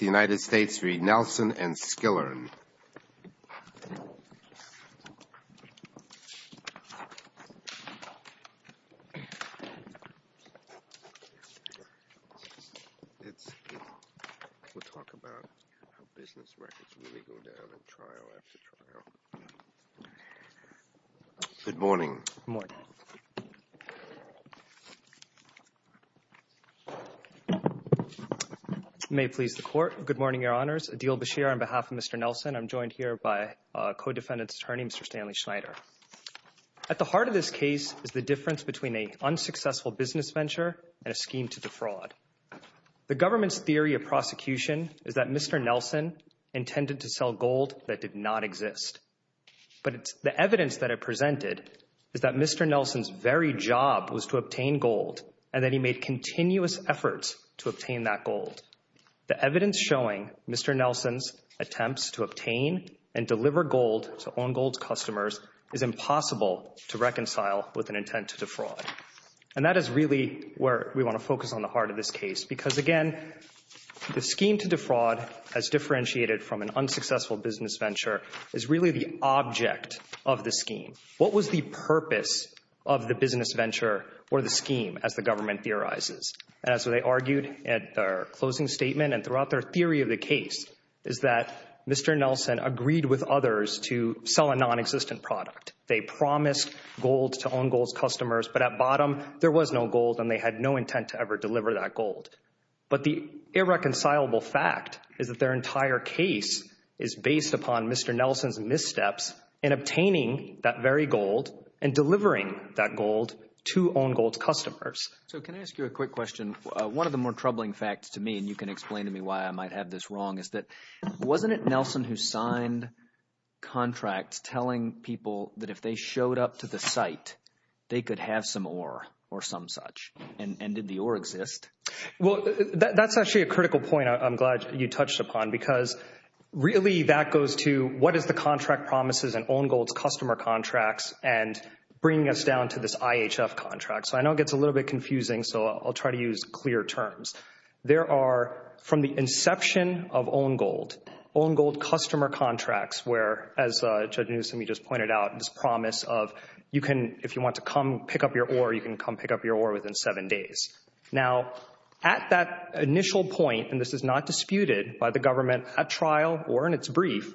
United States v. Nelson and Skillern. Good morning. Good morning. May it please the court. Good morning, your honors. Adil Bashir on behalf of Mr. Nelson. I'm joined here by co-defendant's attorney, Mr. Stanley Schneider. At the heart of this case is the difference between an unsuccessful business venture and a scheme to defraud. The government's theory of prosecution is that Mr. Nelson intended to sell gold that did not exist. But the evidence that it presented is that Mr. Nelson's very job was to obtain gold and that he made continuous efforts to obtain that gold. The evidence showing Mr. Nelson's attempts to obtain and deliver gold to own gold customers is impossible to reconcile with an intent to defraud. And that is really where we want to focus on the heart of this case. Because, again, the scheme to defraud as differentiated from an unsuccessful business venture is really the object of the scheme. What was the purpose of the business venture or the scheme as the government theorizes? And so they argued at their closing statement and throughout their theory of the case is that Mr. Nelson agreed with others to sell a nonexistent product. They promised gold to own gold customers, but at bottom there was no gold and they had no intent to ever deliver that gold. But the irreconcilable fact is that their entire case is based upon Mr. Nelson's missteps in obtaining that very gold and delivering that gold to own gold customers. So can I ask you a quick question? One of the more troubling facts to me, and you can explain to me why I might have this wrong, is that wasn't it Nelson who signed contracts telling people that if they showed up to the site, they could have some ore or some such? And did the ore exist? Well, that's actually a critical point I'm glad you touched upon because really that goes to what is the contract promises and own gold's customer contracts and bringing us down to this IHF contract. So I know it gets a little bit confusing, so I'll try to use clear terms. There are, from the inception of own gold, own gold customer contracts where, as Judge Newsome, you just pointed out, this promise of you can, if you want to come pick up your ore, you can come pick up your ore within seven days. Now, at that initial point, and this is not disputed by the government at trial or in its brief,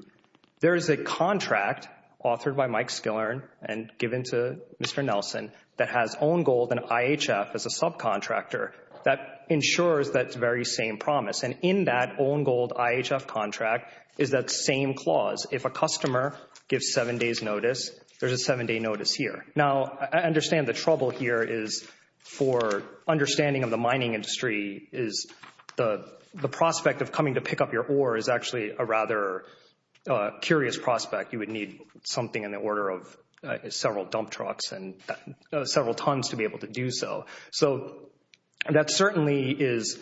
there is a contract authored by Mike Skillern and given to Mr. Nelson that has own gold and IHF as a subcontractor that ensures that very same promise. And in that own gold IHF contract is that same clause. If a customer gives seven days notice, there's a seven day notice here. Now, I understand the trouble here is for understanding of the mining industry is the prospect of coming to pick up your ore is actually a rather curious prospect. You would need something in the order of several dump trucks and several tons to be able to do so. So that certainly is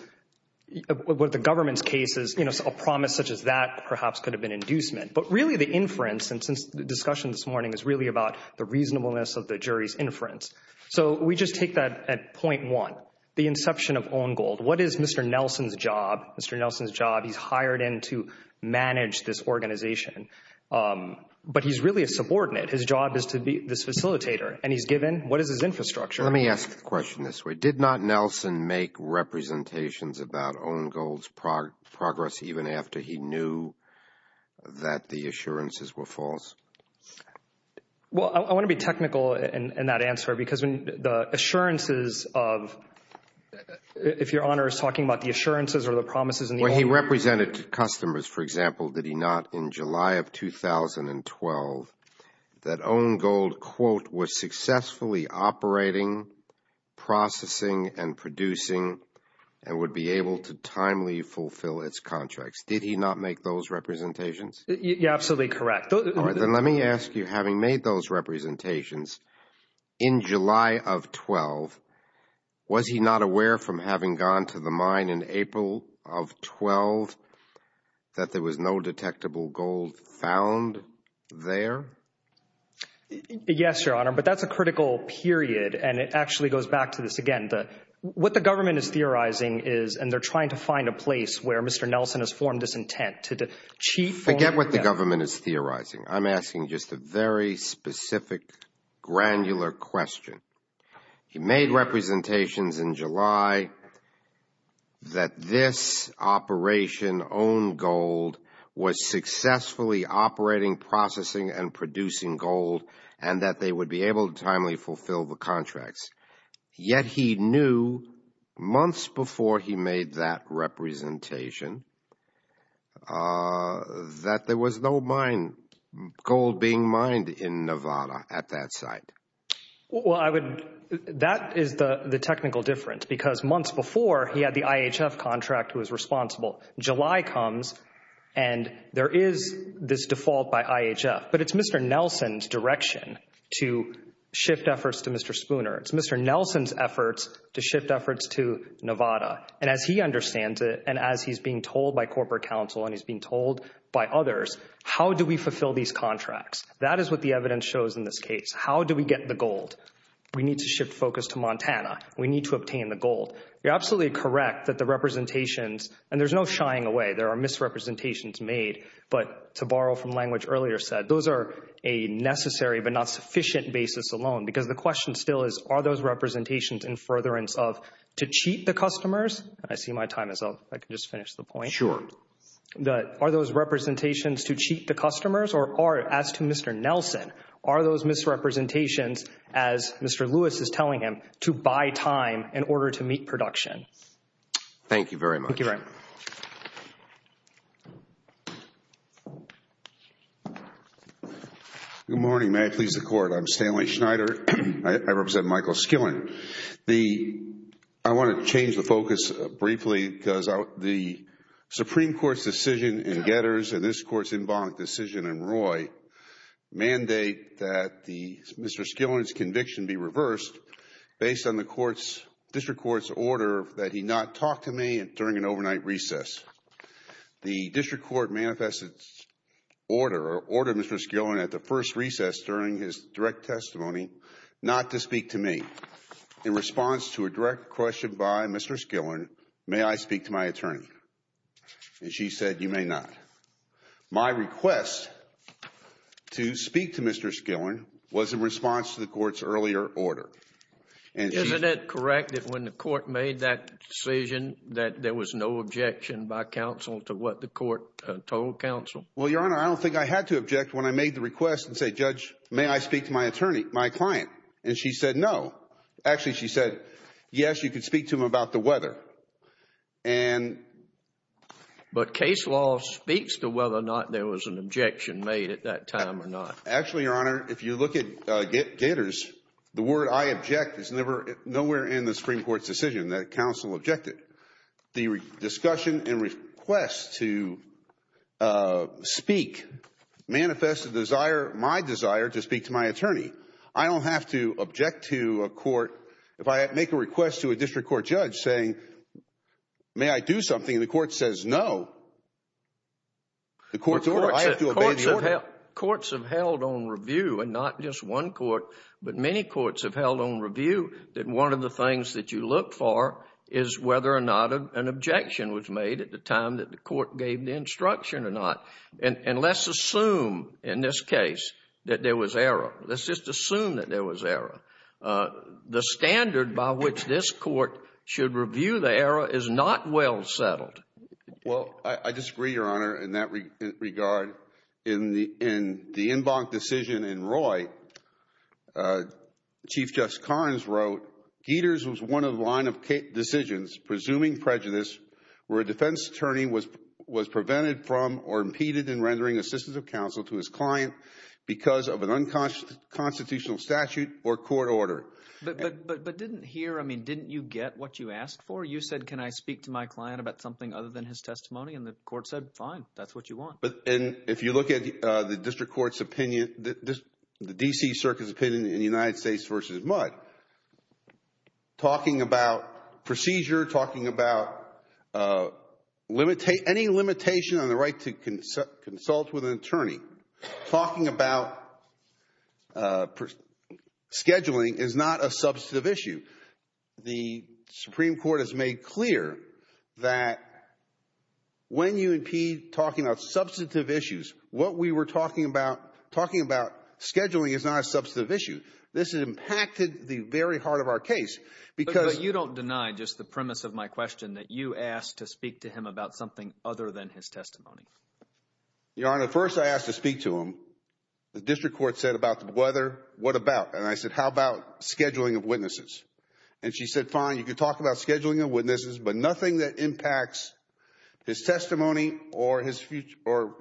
what the government's case is. A promise such as that perhaps could have been inducement. But really the inference, and since the discussion this morning is really about the reasonableness of the jury's inference. So we just take that at point one, the inception of own gold. What is Mr. Nelson's job? Mr. Nelson's job, he's hired in to manage this organization. But he's really a subordinate. His job is to be this facilitator. And he's given, what is his infrastructure? Let me ask the question this way. Did not Nelson make representations about own gold's progress even after he knew that the assurances were false? Well, I want to be technical in that answer because the assurances of, if Your Honor is talking about the assurances or the promises. Well, he represented to customers, for example, did he not, in July of 2012 that own gold, quote, was successfully operating, processing, and producing and would be able to timely fulfill its contracts. Did he not make those representations? You're absolutely correct. All right. Then let me ask you, having made those representations, in July of 12, was he not aware from having gone to the mine in April of 12 that there was no detectable gold found there? Yes, Your Honor, but that's a critical period. And it actually goes back to this again. What the government is theorizing is, and they're trying to find a place where Mr. Nelson has formed this intent. Forget what the government is theorizing. I'm asking just a very specific granular question. He made representations in July that this operation, own gold, was successfully operating, processing, and producing gold and that they would be able to timely fulfill the contracts. Yet he knew months before he made that representation that there was no gold being mined in Nevada at that site. Well, that is the technical difference because months before he had the IHF contract who was responsible. July comes and there is this default by IHF, but it's Mr. Nelson's direction to shift efforts to Mr. Spooner. It's Mr. Nelson's efforts to shift efforts to Nevada. And as he understands it and as he's being told by corporate counsel and he's being told by others, how do we fulfill these contracts? That is what the evidence shows in this case. How do we get the gold? We need to shift focus to Montana. We need to obtain the gold. You're absolutely correct that the representations, and there's no shying away. There are misrepresentations made, but to borrow from language earlier said, those are a necessary but not sufficient basis alone because the question still is, are those representations in furtherance of to cheat the customers? I see my time is up. I can just finish the point. Sure. Are those representations to cheat the customers or as to Mr. Nelson, are those misrepresentations, as Mr. Lewis is telling him, to buy time in order to meet production? Thank you very much. Thank you, Ryan. Good morning. May it please the Court. I'm Stanley Schneider. I represent Michael Skillen. I want to change the focus briefly because the Supreme Court's decision in Getters and this Court's in bond decision in Roy mandate that Mr. Skillen's conviction be reversed based on the District Court's order that he not talk to me during an overnight recess. The District Court manifested order or ordered Mr. Skillen at the first recess during his direct testimony not to speak to me. In response to a direct question by Mr. Skillen, may I speak to my attorney? And she said, you may not. My request to speak to Mr. Skillen was in response to the Court's earlier order. Isn't it correct that when the Court made that decision that there was no objection by counsel to what the Court told counsel? Well, Your Honor, I don't think I had to object when I made the request and said, Judge, may I speak to my attorney, my client? And she said, no. Actually, she said, yes, you could speak to him about the weather. But case law speaks to whether or not there was an objection made at that time or not. Actually, Your Honor, if you look at Gators, the word I object is nowhere in the Supreme Court's decision that counsel objected. The discussion and request to speak manifested my desire to speak to my attorney. I don't have to object to a court. If I make a request to a District Court judge saying, may I do something, and the Court says no, the Court's order, I have to obey the order. Courts have held on review, and not just one court, but many courts have held on review that one of the things that you look for is whether or not an objection was made at the time that the Court gave the instruction or not. And let's assume in this case that there was error. Let's just assume that there was error. The standard by which this Court should review the error is not well settled. Well, I disagree, Your Honor, in that regard. In the en banc decision in Roy, Chief Justice Karnes wrote, Gators was one of the line of decisions presuming prejudice where a defense attorney was prevented from or impeded in rendering assistance of counsel to his client because of an unconstitutional statute or court order. But didn't here – I mean didn't you get what you asked for? You said, can I speak to my client about something other than his testimony? And the Court said, fine, that's what you want. And if you look at the District Court's opinion, the D.C. Circuit's opinion in the United States v. Mudd, talking about procedure, talking about any limitation on the right to consult with an attorney, talking about scheduling is not a substantive issue. The Supreme Court has made clear that when you impede talking about substantive issues, what we were talking about – talking about scheduling is not a substantive issue. This has impacted the very heart of our case because – But you don't deny just the premise of my question that you asked to speak to him about something other than his testimony. Your Honor, first I asked to speak to him. The District Court said about the whether, what about? And I said, how about scheduling of witnesses? And she said, fine, you can talk about scheduling of witnesses, but nothing that impacts his testimony or his – or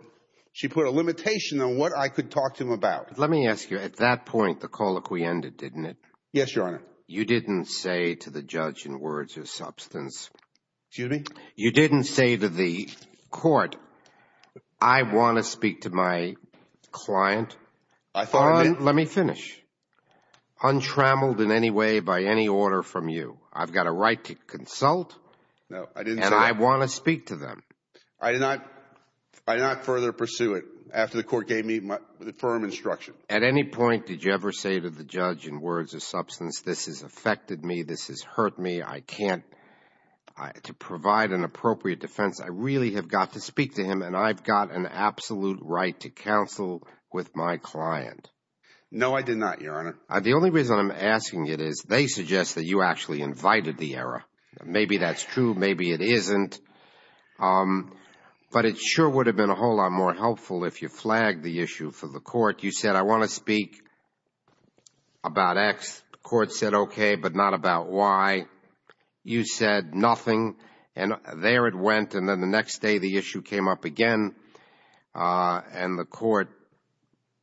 she put a limitation on what I could talk to him about. Let me ask you, at that point the call acquiended, didn't it? Yes, Your Honor. You didn't say to the judge in words of substance – Excuse me? You didn't say to the court, I want to speak to my client. I thought – Let me finish. Untrammeled in any way by any order from you, I've got a right to consult. No, I didn't say that. And I want to speak to them. I did not further pursue it after the court gave me the firm instruction. At any point did you ever say to the judge in words of substance, this has affected me, this has hurt me, I can't – to provide an appropriate defense, I really have got to speak to him and I've got an absolute right to counsel with my client? No, I did not, Your Honor. The only reason I'm asking it is they suggest that you actually invited the error. Maybe that's true, maybe it isn't. But it sure would have been a whole lot more helpful if you flagged the issue for the court. You said, I want to speak about X. The court said, okay, but not about Y. You said nothing and there it went and then the next day the issue came up again and the court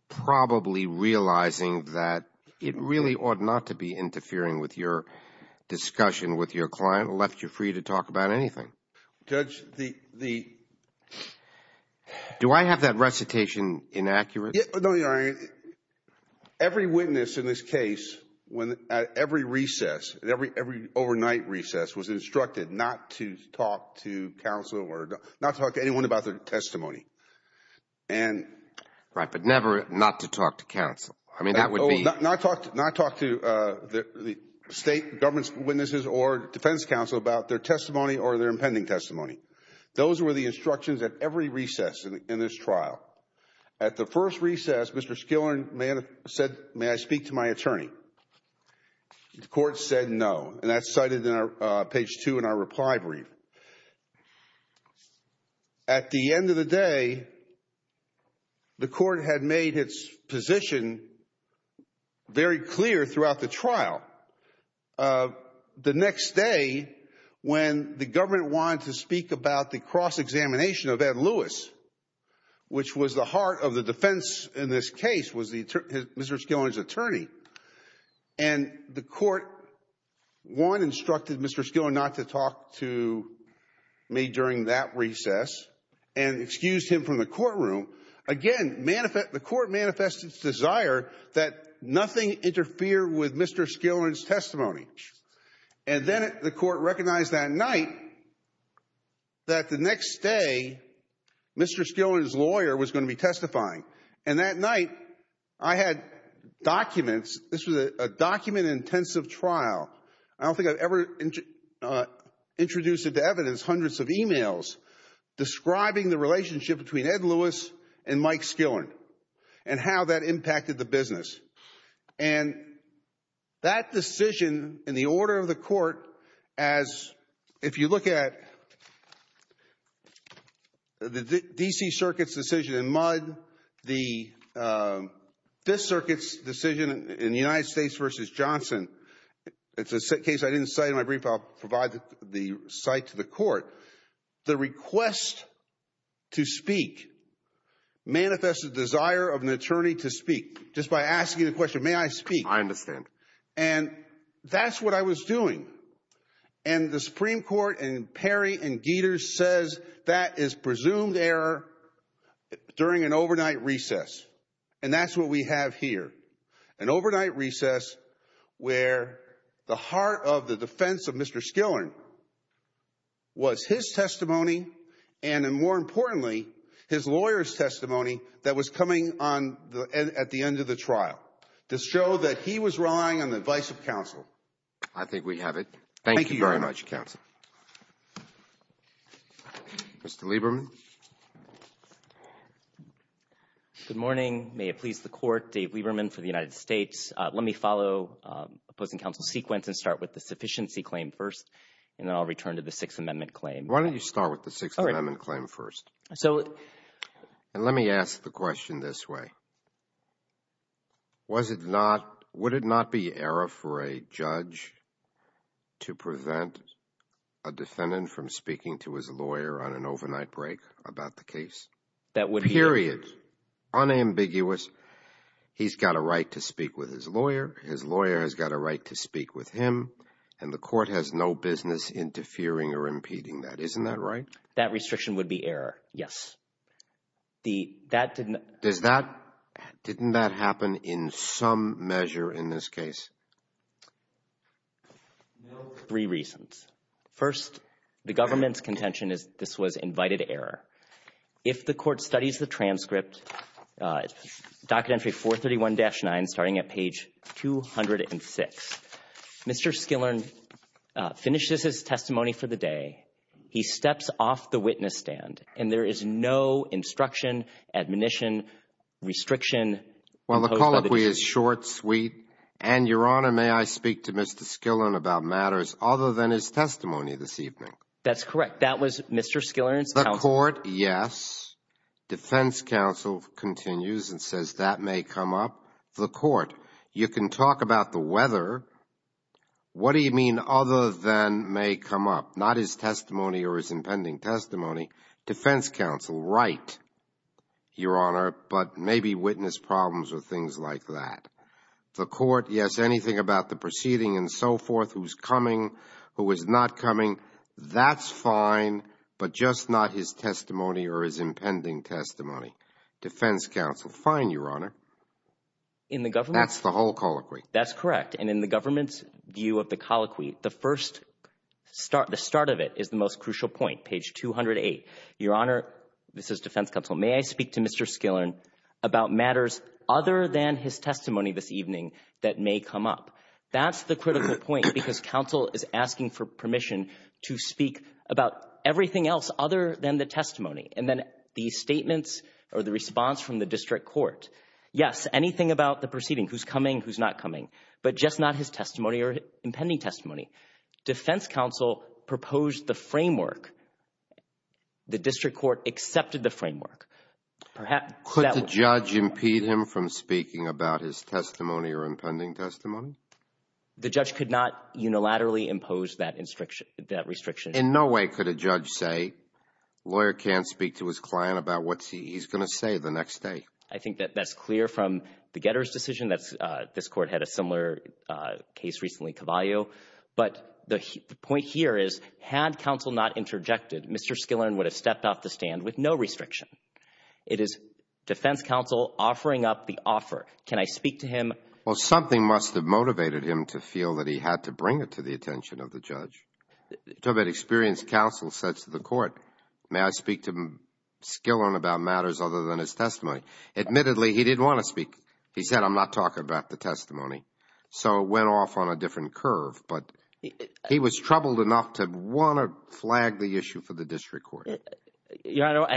probably realizing that it really ought not to be interfering with your discussion with your client left you free to talk about anything. Judge, the – Do I have that recitation inaccurate? No, Your Honor. Every witness in this case at every recess, every overnight recess was instructed not to talk to counsel or not talk to anyone about their testimony. Right, but never not to talk to counsel. I mean, that would be – Not talk to the state government's witnesses or defense counsel about their testimony or their impending testimony. Those were the instructions at every recess in this trial. At the first recess, Mr. Skillern said, may I speak to my attorney? The court said no, and that's cited in page 2 in our reply brief. At the end of the day, the court had made its position very clear throughout the trial. The next day, when the government wanted to speak about the cross-examination of Ed Lewis, which was the heart of the defense in this case, was Mr. Skillern's attorney, and the court, one, instructed Mr. Skillern not to talk to me during that recess and excused him from the courtroom. Again, the court manifested its desire that nothing interfere with Mr. Skillern's testimony. And then the court recognized that night that the next day, Mr. Skillern's lawyer was going to be testifying. And that night, I had documents. This was a document-intensive trial. I don't think I've ever introduced into evidence hundreds of emails describing the relationship between Ed Lewis and Mike Skillern and how that impacted the business. And that decision, in the order of the court, as if you look at the D.C. Circuit's decision in Mudd, the Fifth Circuit's decision in the United States v. Johnson, it's a case I didn't cite in my brief, but I'll provide the cite to the court. The request to speak manifested the desire of an attorney to speak. Just by asking the question, may I speak? I understand. And that's what I was doing. And the Supreme Court in Perry and Gieters says that is presumed error during an overnight recess. And that's what we have here, an overnight recess where the heart of the defense of Mr. Skillern was his testimony and, more importantly, his lawyer's testimony that was coming at the end of the trial to show that he was relying on the advice of counsel. I think we have it. Thank you very much, counsel. Mr. Lieberman. Good morning. May it please the Court, Dave Lieberman for the United States. Let me follow opposing counsel's sequence and start with the sufficiency claim first, and then I'll return to the Sixth Amendment claim. Why don't you start with the Sixth Amendment claim first? And let me ask the question this way. Would it not be error for a judge to prevent a defendant from speaking to his lawyer on an overnight break about the case? Period. Unambiguous. He's got a right to speak with his lawyer. His lawyer has got a right to speak with him, and the court has no business interfering or impeding that. Isn't that right? That restriction would be error, yes. That didn't – Didn't that happen in some measure in this case? No, for three reasons. First, the government's contention is this was invited error. If the court studies the transcript, Documentary 431-9, starting at page 206, Mr. Skillern finishes his testimony for the day, he steps off the witness stand, and there is no instruction, admonition, restriction imposed by the judge. Well, the colloquy is short, sweet, and, Your Honor, may I speak to Mr. Skillern about matters other than his testimony this evening? That's correct. That was Mr. Skillern's testimony. The court, yes. Defense counsel continues and says that may come up. The court, you can talk about the weather. What do you mean other than may come up? Not his testimony or his impending testimony. Defense counsel, right, Your Honor, but maybe witness problems or things like that. The court, yes, anything about the proceeding and so forth, who's coming, who is not coming, that's fine, but just not his testimony or his impending testimony. Defense counsel, fine, Your Honor. That's the whole colloquy. That's correct, and in the government's view of the colloquy, the start of it is the most crucial point, page 208. Your Honor, this is defense counsel, may I speak to Mr. Skillern about matters other than his testimony this evening that may come up? That's the critical point because counsel is asking for permission to speak about everything else other than the testimony, and then the statements or the response from the district court. Yes, anything about the proceeding, who's coming, who's not coming, but just not his testimony or impending testimony. Defense counsel proposed the framework. The district court accepted the framework. Could the judge impede him from speaking about his testimony or impending testimony? The judge could not unilaterally impose that restriction. In no way could a judge say, lawyer can't speak to his client about what he's going to say the next day. I think that that's clear from the Getter's decision. This Court had a similar case recently, Cavalio. But the point here is, had counsel not interjected, Mr. Skillern would have stepped off the stand with no restriction. It is defense counsel offering up the offer. Can I speak to him? Well, something must have motivated him to feel that he had to bring it to the attention of the judge. You talk about experienced counsel said to the court, may I speak to Skillern about matters other than his testimony? Admittedly, he didn't want to speak. He said, I'm not talking about the testimony. So it went off on a different curve. But he was troubled enough to want to flag the issue for the district court. I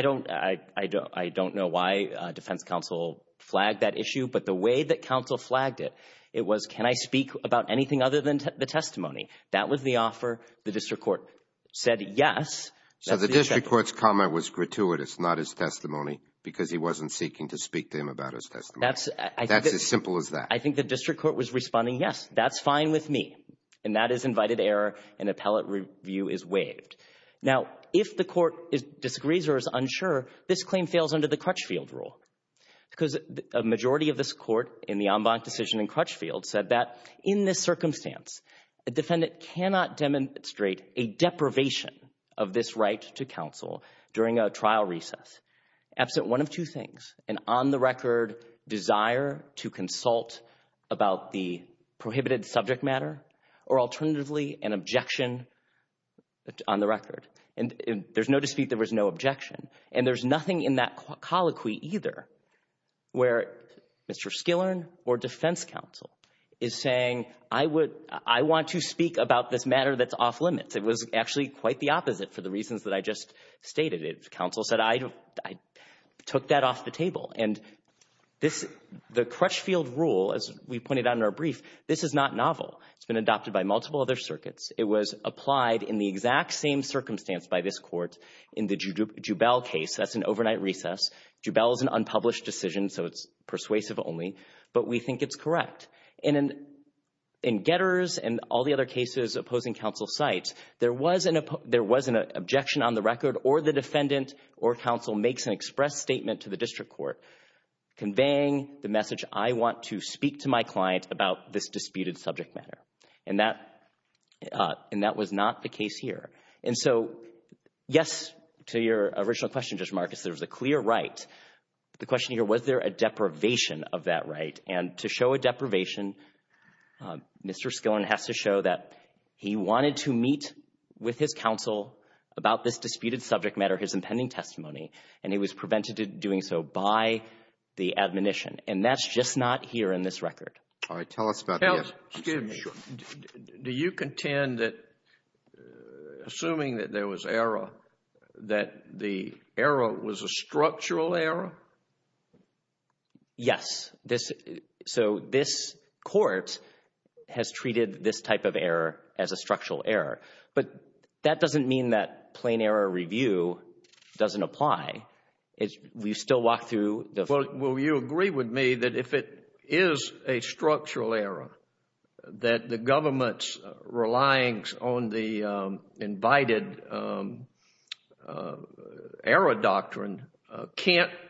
don't know why defense counsel flagged that issue. But the way that counsel flagged it, it was, can I speak about anything other than the testimony? That was the offer. The district court said yes. So the district court's comment was gratuitous, not his testimony, because he wasn't seeking to speak to him about his testimony. That's as simple as that. I think the district court was responding, yes, that's fine with me. And that is invited error, and appellate review is waived. Now, if the court disagrees or is unsure, this claim fails under the Crutchfield rule, because a majority of this court in the en banc decision in Crutchfield said that in this circumstance, a defendant cannot demonstrate a deprivation of this right to counsel during a trial recess, absent one of two things, an on-the-record desire to consult about the prohibited subject matter, or alternatively, an objection on the record. And there's no dispute there was no objection. And there's nothing in that colloquy either where Mr. Skillern or defense counsel is saying, I want to speak about this matter that's off limits. It was actually quite the opposite for the reasons that I just stated. Counsel said, I took that off the table. And the Crutchfield rule, as we pointed out in our brief, this is not novel. It's been adopted by multiple other circuits. It was applied in the exact same circumstance by this court in the Jubel case. That's an overnight recess. Jubel is an unpublished decision, so it's persuasive only, but we think it's correct. And in Getters and all the other cases opposing counsel's sites, there was an objection on the record, or the defendant or counsel makes an express statement to the district court conveying the message, I want to speak to my client about this disputed subject matter. And that was not the case here. And so, yes, to your original question, Judge Marcus, there was a clear right. The question here, was there a deprivation of that right? And to show a deprivation, Mr. Skillen has to show that he wanted to meet with his counsel about this disputed subject matter, his impending testimony, and he was prevented of doing so by the admonition. And that's just not here in this record. All right. Tell us about this. Excuse me. Do you contend that, assuming that there was error, that the error was a structural error? Yes. So this court has treated this type of error as a structural error. But that doesn't mean that plain error review doesn't apply. We still walk through the… We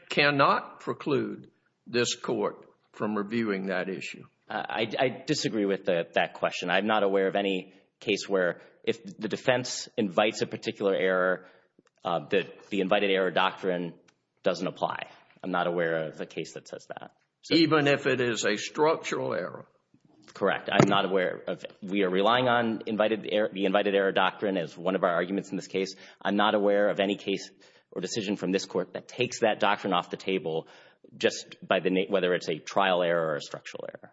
cannot preclude this court from reviewing that issue. I disagree with that question. I'm not aware of any case where if the defense invites a particular error, the invited error doctrine doesn't apply. I'm not aware of a case that says that. Even if it is a structural error? Correct. I'm not aware of it. We are relying on the invited error doctrine as one of our arguments in this case. I'm not aware of any case or decision from this court that takes that doctrine off the table just by the… whether it's a trial error or a structural error.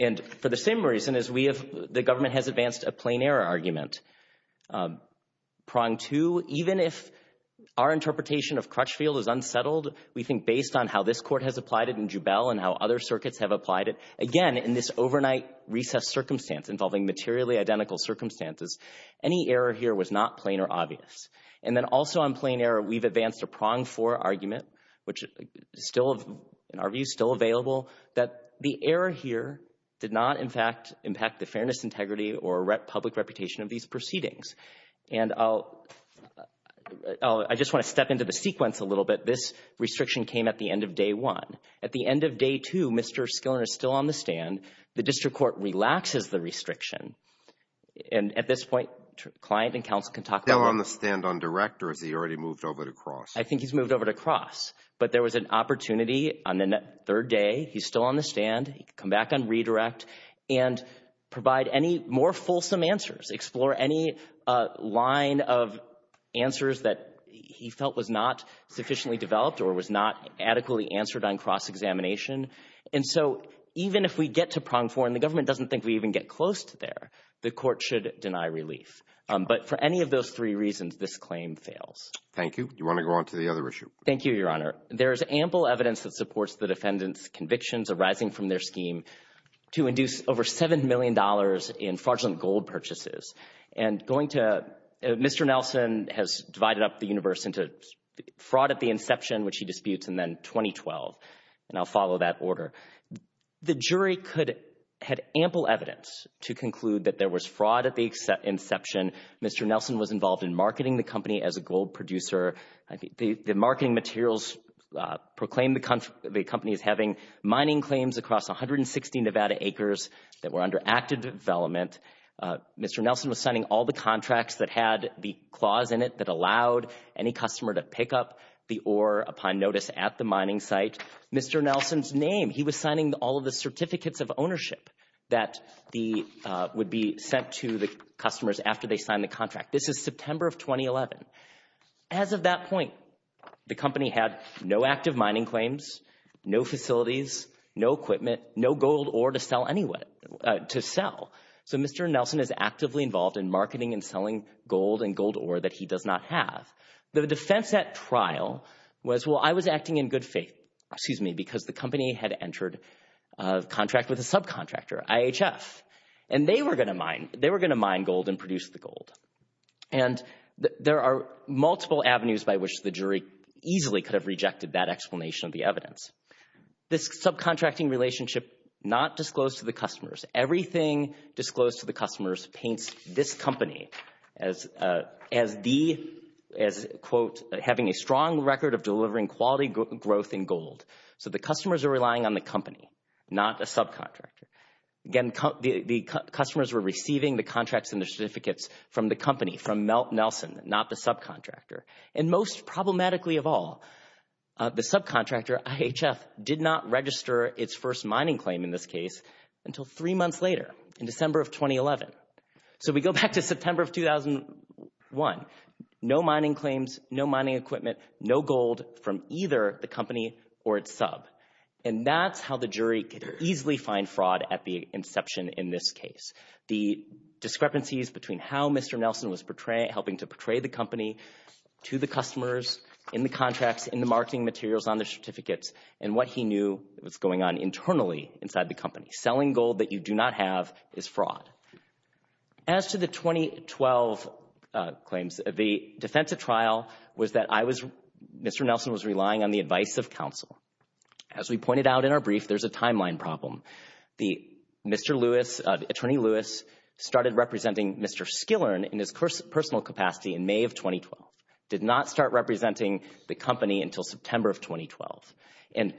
And for the same reason as we have, the government has advanced a plain error argument. Prong two, even if our interpretation of Crutchfield is unsettled, we think based on how this court has applied it in Jubel and how other circuits have applied it, again, in this overnight recessed circumstance involving materially identical circumstances, any error here was not plain or obvious. And then also on plain error, we've advanced a prong four argument, which in our view is still available, that the error here did not, in fact, impact the fairness, integrity, or public reputation of these proceedings. And I just want to step into the sequence a little bit. This restriction came at the end of day one. At the end of day two, Mr. Skillen is still on the stand. The district court relaxes the restriction. And at this point, client and counsel can talk about it. Still on the stand on direct, or has he already moved over to cross? I think he's moved over to cross, but there was an opportunity on the third day. He's still on the stand. He can come back on redirect and provide any more fulsome answers, explore any line of answers that he felt was not sufficiently developed or was not adequately answered on cross-examination. And so even if we get to prong four and the government doesn't think we even get close to there, the court should deny relief. But for any of those three reasons, this claim fails. Thank you. Do you want to go on to the other issue? Thank you, Your Honor. There is ample evidence that supports the defendants' convictions arising from their scheme to induce over $7 million in fraudulent gold purchases. And going to Mr. Nelson has divided up the universe into fraud at the inception, which he disputes, and then 2012. And I'll follow that order. The jury had ample evidence to conclude that there was fraud at the inception. Mr. Nelson was involved in marketing the company as a gold producer. The marketing materials proclaimed the company as having mining claims across 160 Nevada acres that were under active development. Mr. Nelson was signing all the contracts that had the clause in it that allowed any customer to pick up the ore upon notice at the mining site. Mr. Nelson's name, he was signing all of the certificates of ownership that would be sent to the customers after they signed the contract. This is September of 2011. As of that point, the company had no active mining claims, no facilities, no equipment, no gold ore to sell. So Mr. Nelson is actively involved in marketing and selling gold and gold ore that he does not have. The defense at trial was, well, I was acting in good faith, excuse me, because the company had entered a contract with a subcontractor, IHF, and they were going to mine gold and produce the gold. And there are multiple avenues by which the jury easily could have rejected that explanation of the evidence. This subcontracting relationship not disclosed to the customers. Everything disclosed to the customers paints this company as the, as, quote, having a strong record of delivering quality growth in gold. So the customers are relying on the company, not a subcontractor. Again, the customers were receiving the contracts and the certificates from the company, from Nelson, not the subcontractor. And most problematically of all, the subcontractor, IHF, did not register its first mining claim in this case until three months later in December of 2011. So we go back to September of 2001. No mining claims, no mining equipment, no gold from either the company or its sub. And that's how the jury could easily find fraud at the inception in this case. The discrepancies between how Mr. Nelson was portraying, helping to portray the company to the customers in the contracts, in the marketing materials on the certificates, and what he knew was going on internally inside the company. Selling gold that you do not have is fraud. As to the 2012 claims, the defense of trial was that I was, Mr. Nelson was relying on the advice of counsel. As we pointed out in our brief, there's a timeline problem. The Mr. Lewis, Attorney Lewis, started representing Mr. Skillern in his personal capacity in May of 2012. Did not start representing the company until September of 2012. And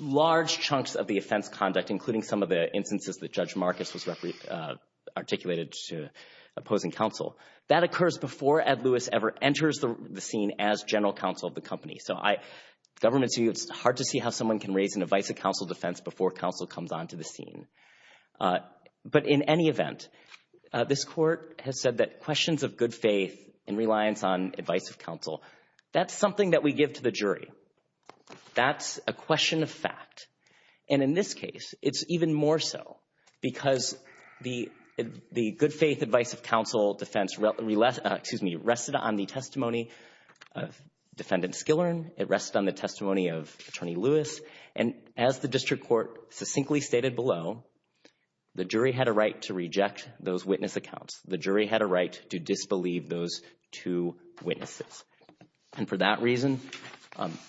large chunks of the offense conduct, including some of the instances that Judge Marcus was articulated to opposing counsel, that occurs before Ed Lewis ever enters the scene as general counsel of the company. So I, government's view, it's hard to see how someone can raise an advice of counsel defense before counsel comes onto the scene. But in any event, this court has said that questions of good faith and reliance on advice of counsel, that's something that we give to the jury. That's a question of fact. And in this case, it's even more so because the good faith advice of counsel defense, excuse me, rested on the testimony of Defendant Skillern. It rested on the testimony of Attorney Lewis. And as the district court succinctly stated below, the jury had a right to reject those witness accounts. The jury had a right to disbelieve those two witnesses. And for that reason,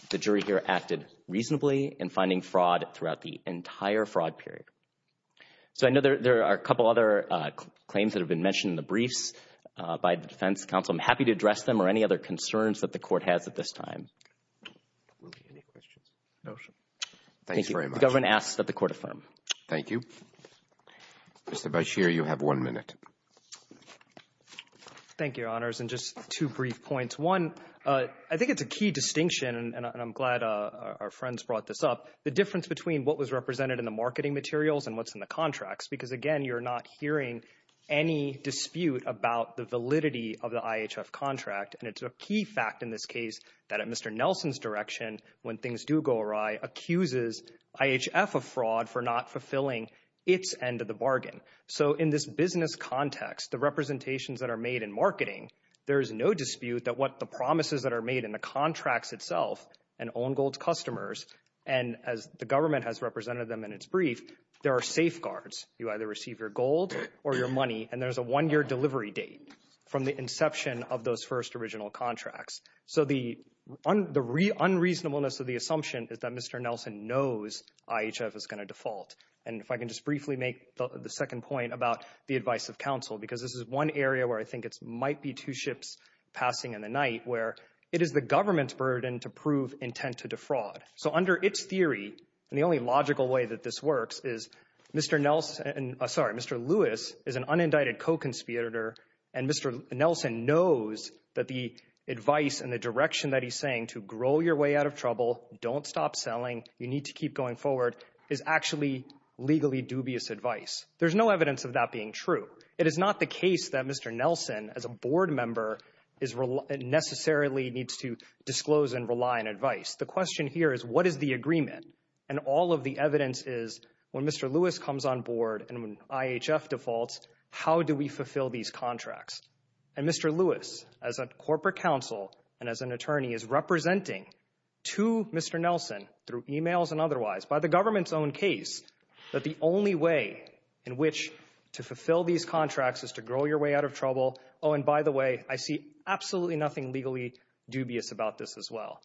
the jury here acted reasonably in finding fraud throughout the entire fraud period. So I know there are a couple other claims that have been mentioned in the briefs by the defense counsel. I'm happy to address them or any other concerns that the court has at this time. Any questions? No, sir. Thanks very much. The government asks that the court affirm. Thank you. Mr. Bashir, you have one minute. Thank you, Your Honors. And just two brief points. One, I think it's a key distinction, and I'm glad our friends brought this up, the difference between what was represented in the marketing materials and what's in the contracts. Because, again, you're not hearing any dispute about the validity of the IHF contract. And it's a key fact in this case that at Mr. Nelson's direction, when things do go awry, accuses IHF of fraud for not fulfilling its end of the bargain. So in this business context, the representations that are made in marketing, there is no dispute that what the promises that are made in the contracts itself, and Owen Gold's customers, and as the government has represented them in its brief, there are safeguards. You either receive your gold or your money, and there's a one-year delivery date from the inception of those first original contracts. So the unreasonableness of the assumption is that Mr. Nelson knows IHF is going to default. And if I can just briefly make the second point about the advice of counsel, because this is one area where I think it might be two ships passing in the night, where it is the government's burden to prove intent to defraud. So under its theory, and the only logical way that this works is Mr. Lewis is an unindicted co-conspirator, and Mr. Nelson knows that the advice and the direction that he's saying, to grow your way out of trouble, don't stop selling, you need to keep going forward, is actually legally dubious advice. There's no evidence of that being true. It is not the case that Mr. Nelson, as a board member, necessarily needs to disclose and rely on advice. The question here is, what is the agreement? And all of the evidence is, when Mr. Lewis comes on board and IHF defaults, how do we fulfill these contracts? And Mr. Lewis, as a corporate counsel and as an attorney, is representing to Mr. Nelson, through emails and otherwise, by the government's own case, that the only way in which to fulfill these contracts is to grow your way out of trouble. Oh, and by the way, I see absolutely nothing legally dubious about this as well.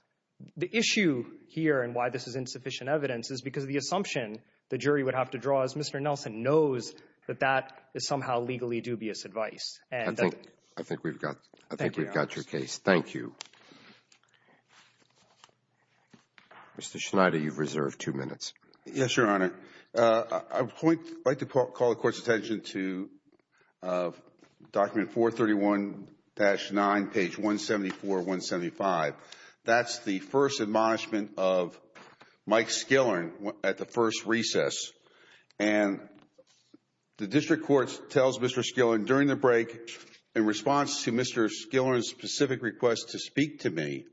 The issue here and why this is insufficient evidence is because of the assumption the jury would have to draw is Mr. Nelson knows that that is somehow legally dubious advice. I think we've got your case. Thank you. Mr. Schneider, you've reserved two minutes. Yes, Your Honor. I would like to call the Court's attention to document 431-9, page 174, 175. That's the first admonishment of Mike Skillern at the first recess. And the District Court tells Mr. Skillern during the break, in response to Mr. Skillern's specific request to speak to me,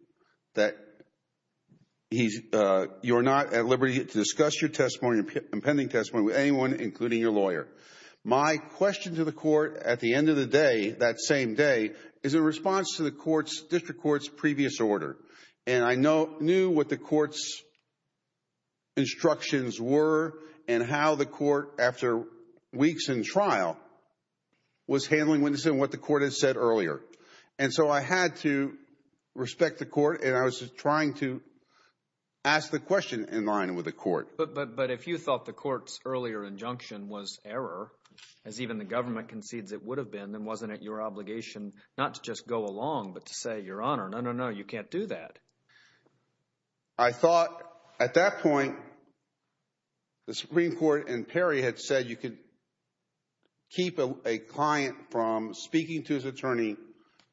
that you are not at liberty to discuss your testimony, your impending testimony, with anyone including your lawyer. My question to the Court at the end of the day, that same day, is in response to the District Court's previous order. And I knew what the Court's instructions were and how the Court, after weeks in trial, was handling what the Court had said earlier. And so I had to respect the Court, and I was trying to ask the question in line with the Court. But if you thought the Court's earlier injunction was error, as even the government concedes it would have been, then wasn't it your obligation not to just go along but to say, Your Honor, no, no, no, you can't do that. I thought at that point the Supreme Court and Perry had said you could keep a client from speaking to his attorney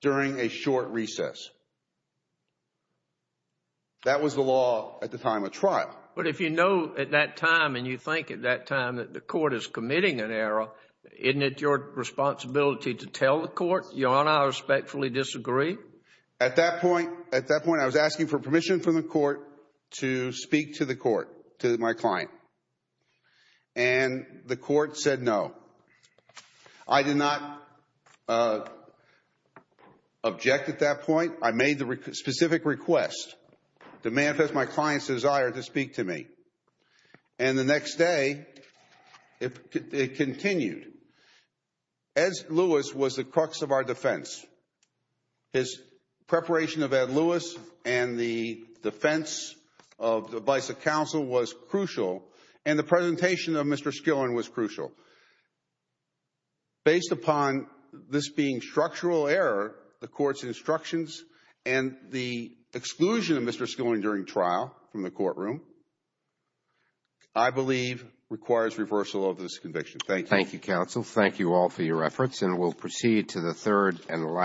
during a short recess. That was the law at the time of trial. But if you know at that time and you think at that time that the Court is committing an error, isn't it your responsibility to tell the Court, Your Honor, I respectfully disagree? At that point I was asking for permission from the Court to speak to the Court, to my client. And the Court said no. I did not object at that point. I made the specific request to manifest my client's desire to speak to me. And the next day it continued. Ed Lewis was the crux of our defense. His preparation of Ed Lewis and the defense of the Vice Counsel was crucial, and the presentation of Mr. Skillern was crucial. Based upon this being structural error, the Court's instructions, and the exclusion of Mr. Skillern during trial from the courtroom, I believe requires reversal of this conviction. Thank you. Thank you, counsel. Thank you all for your efforts.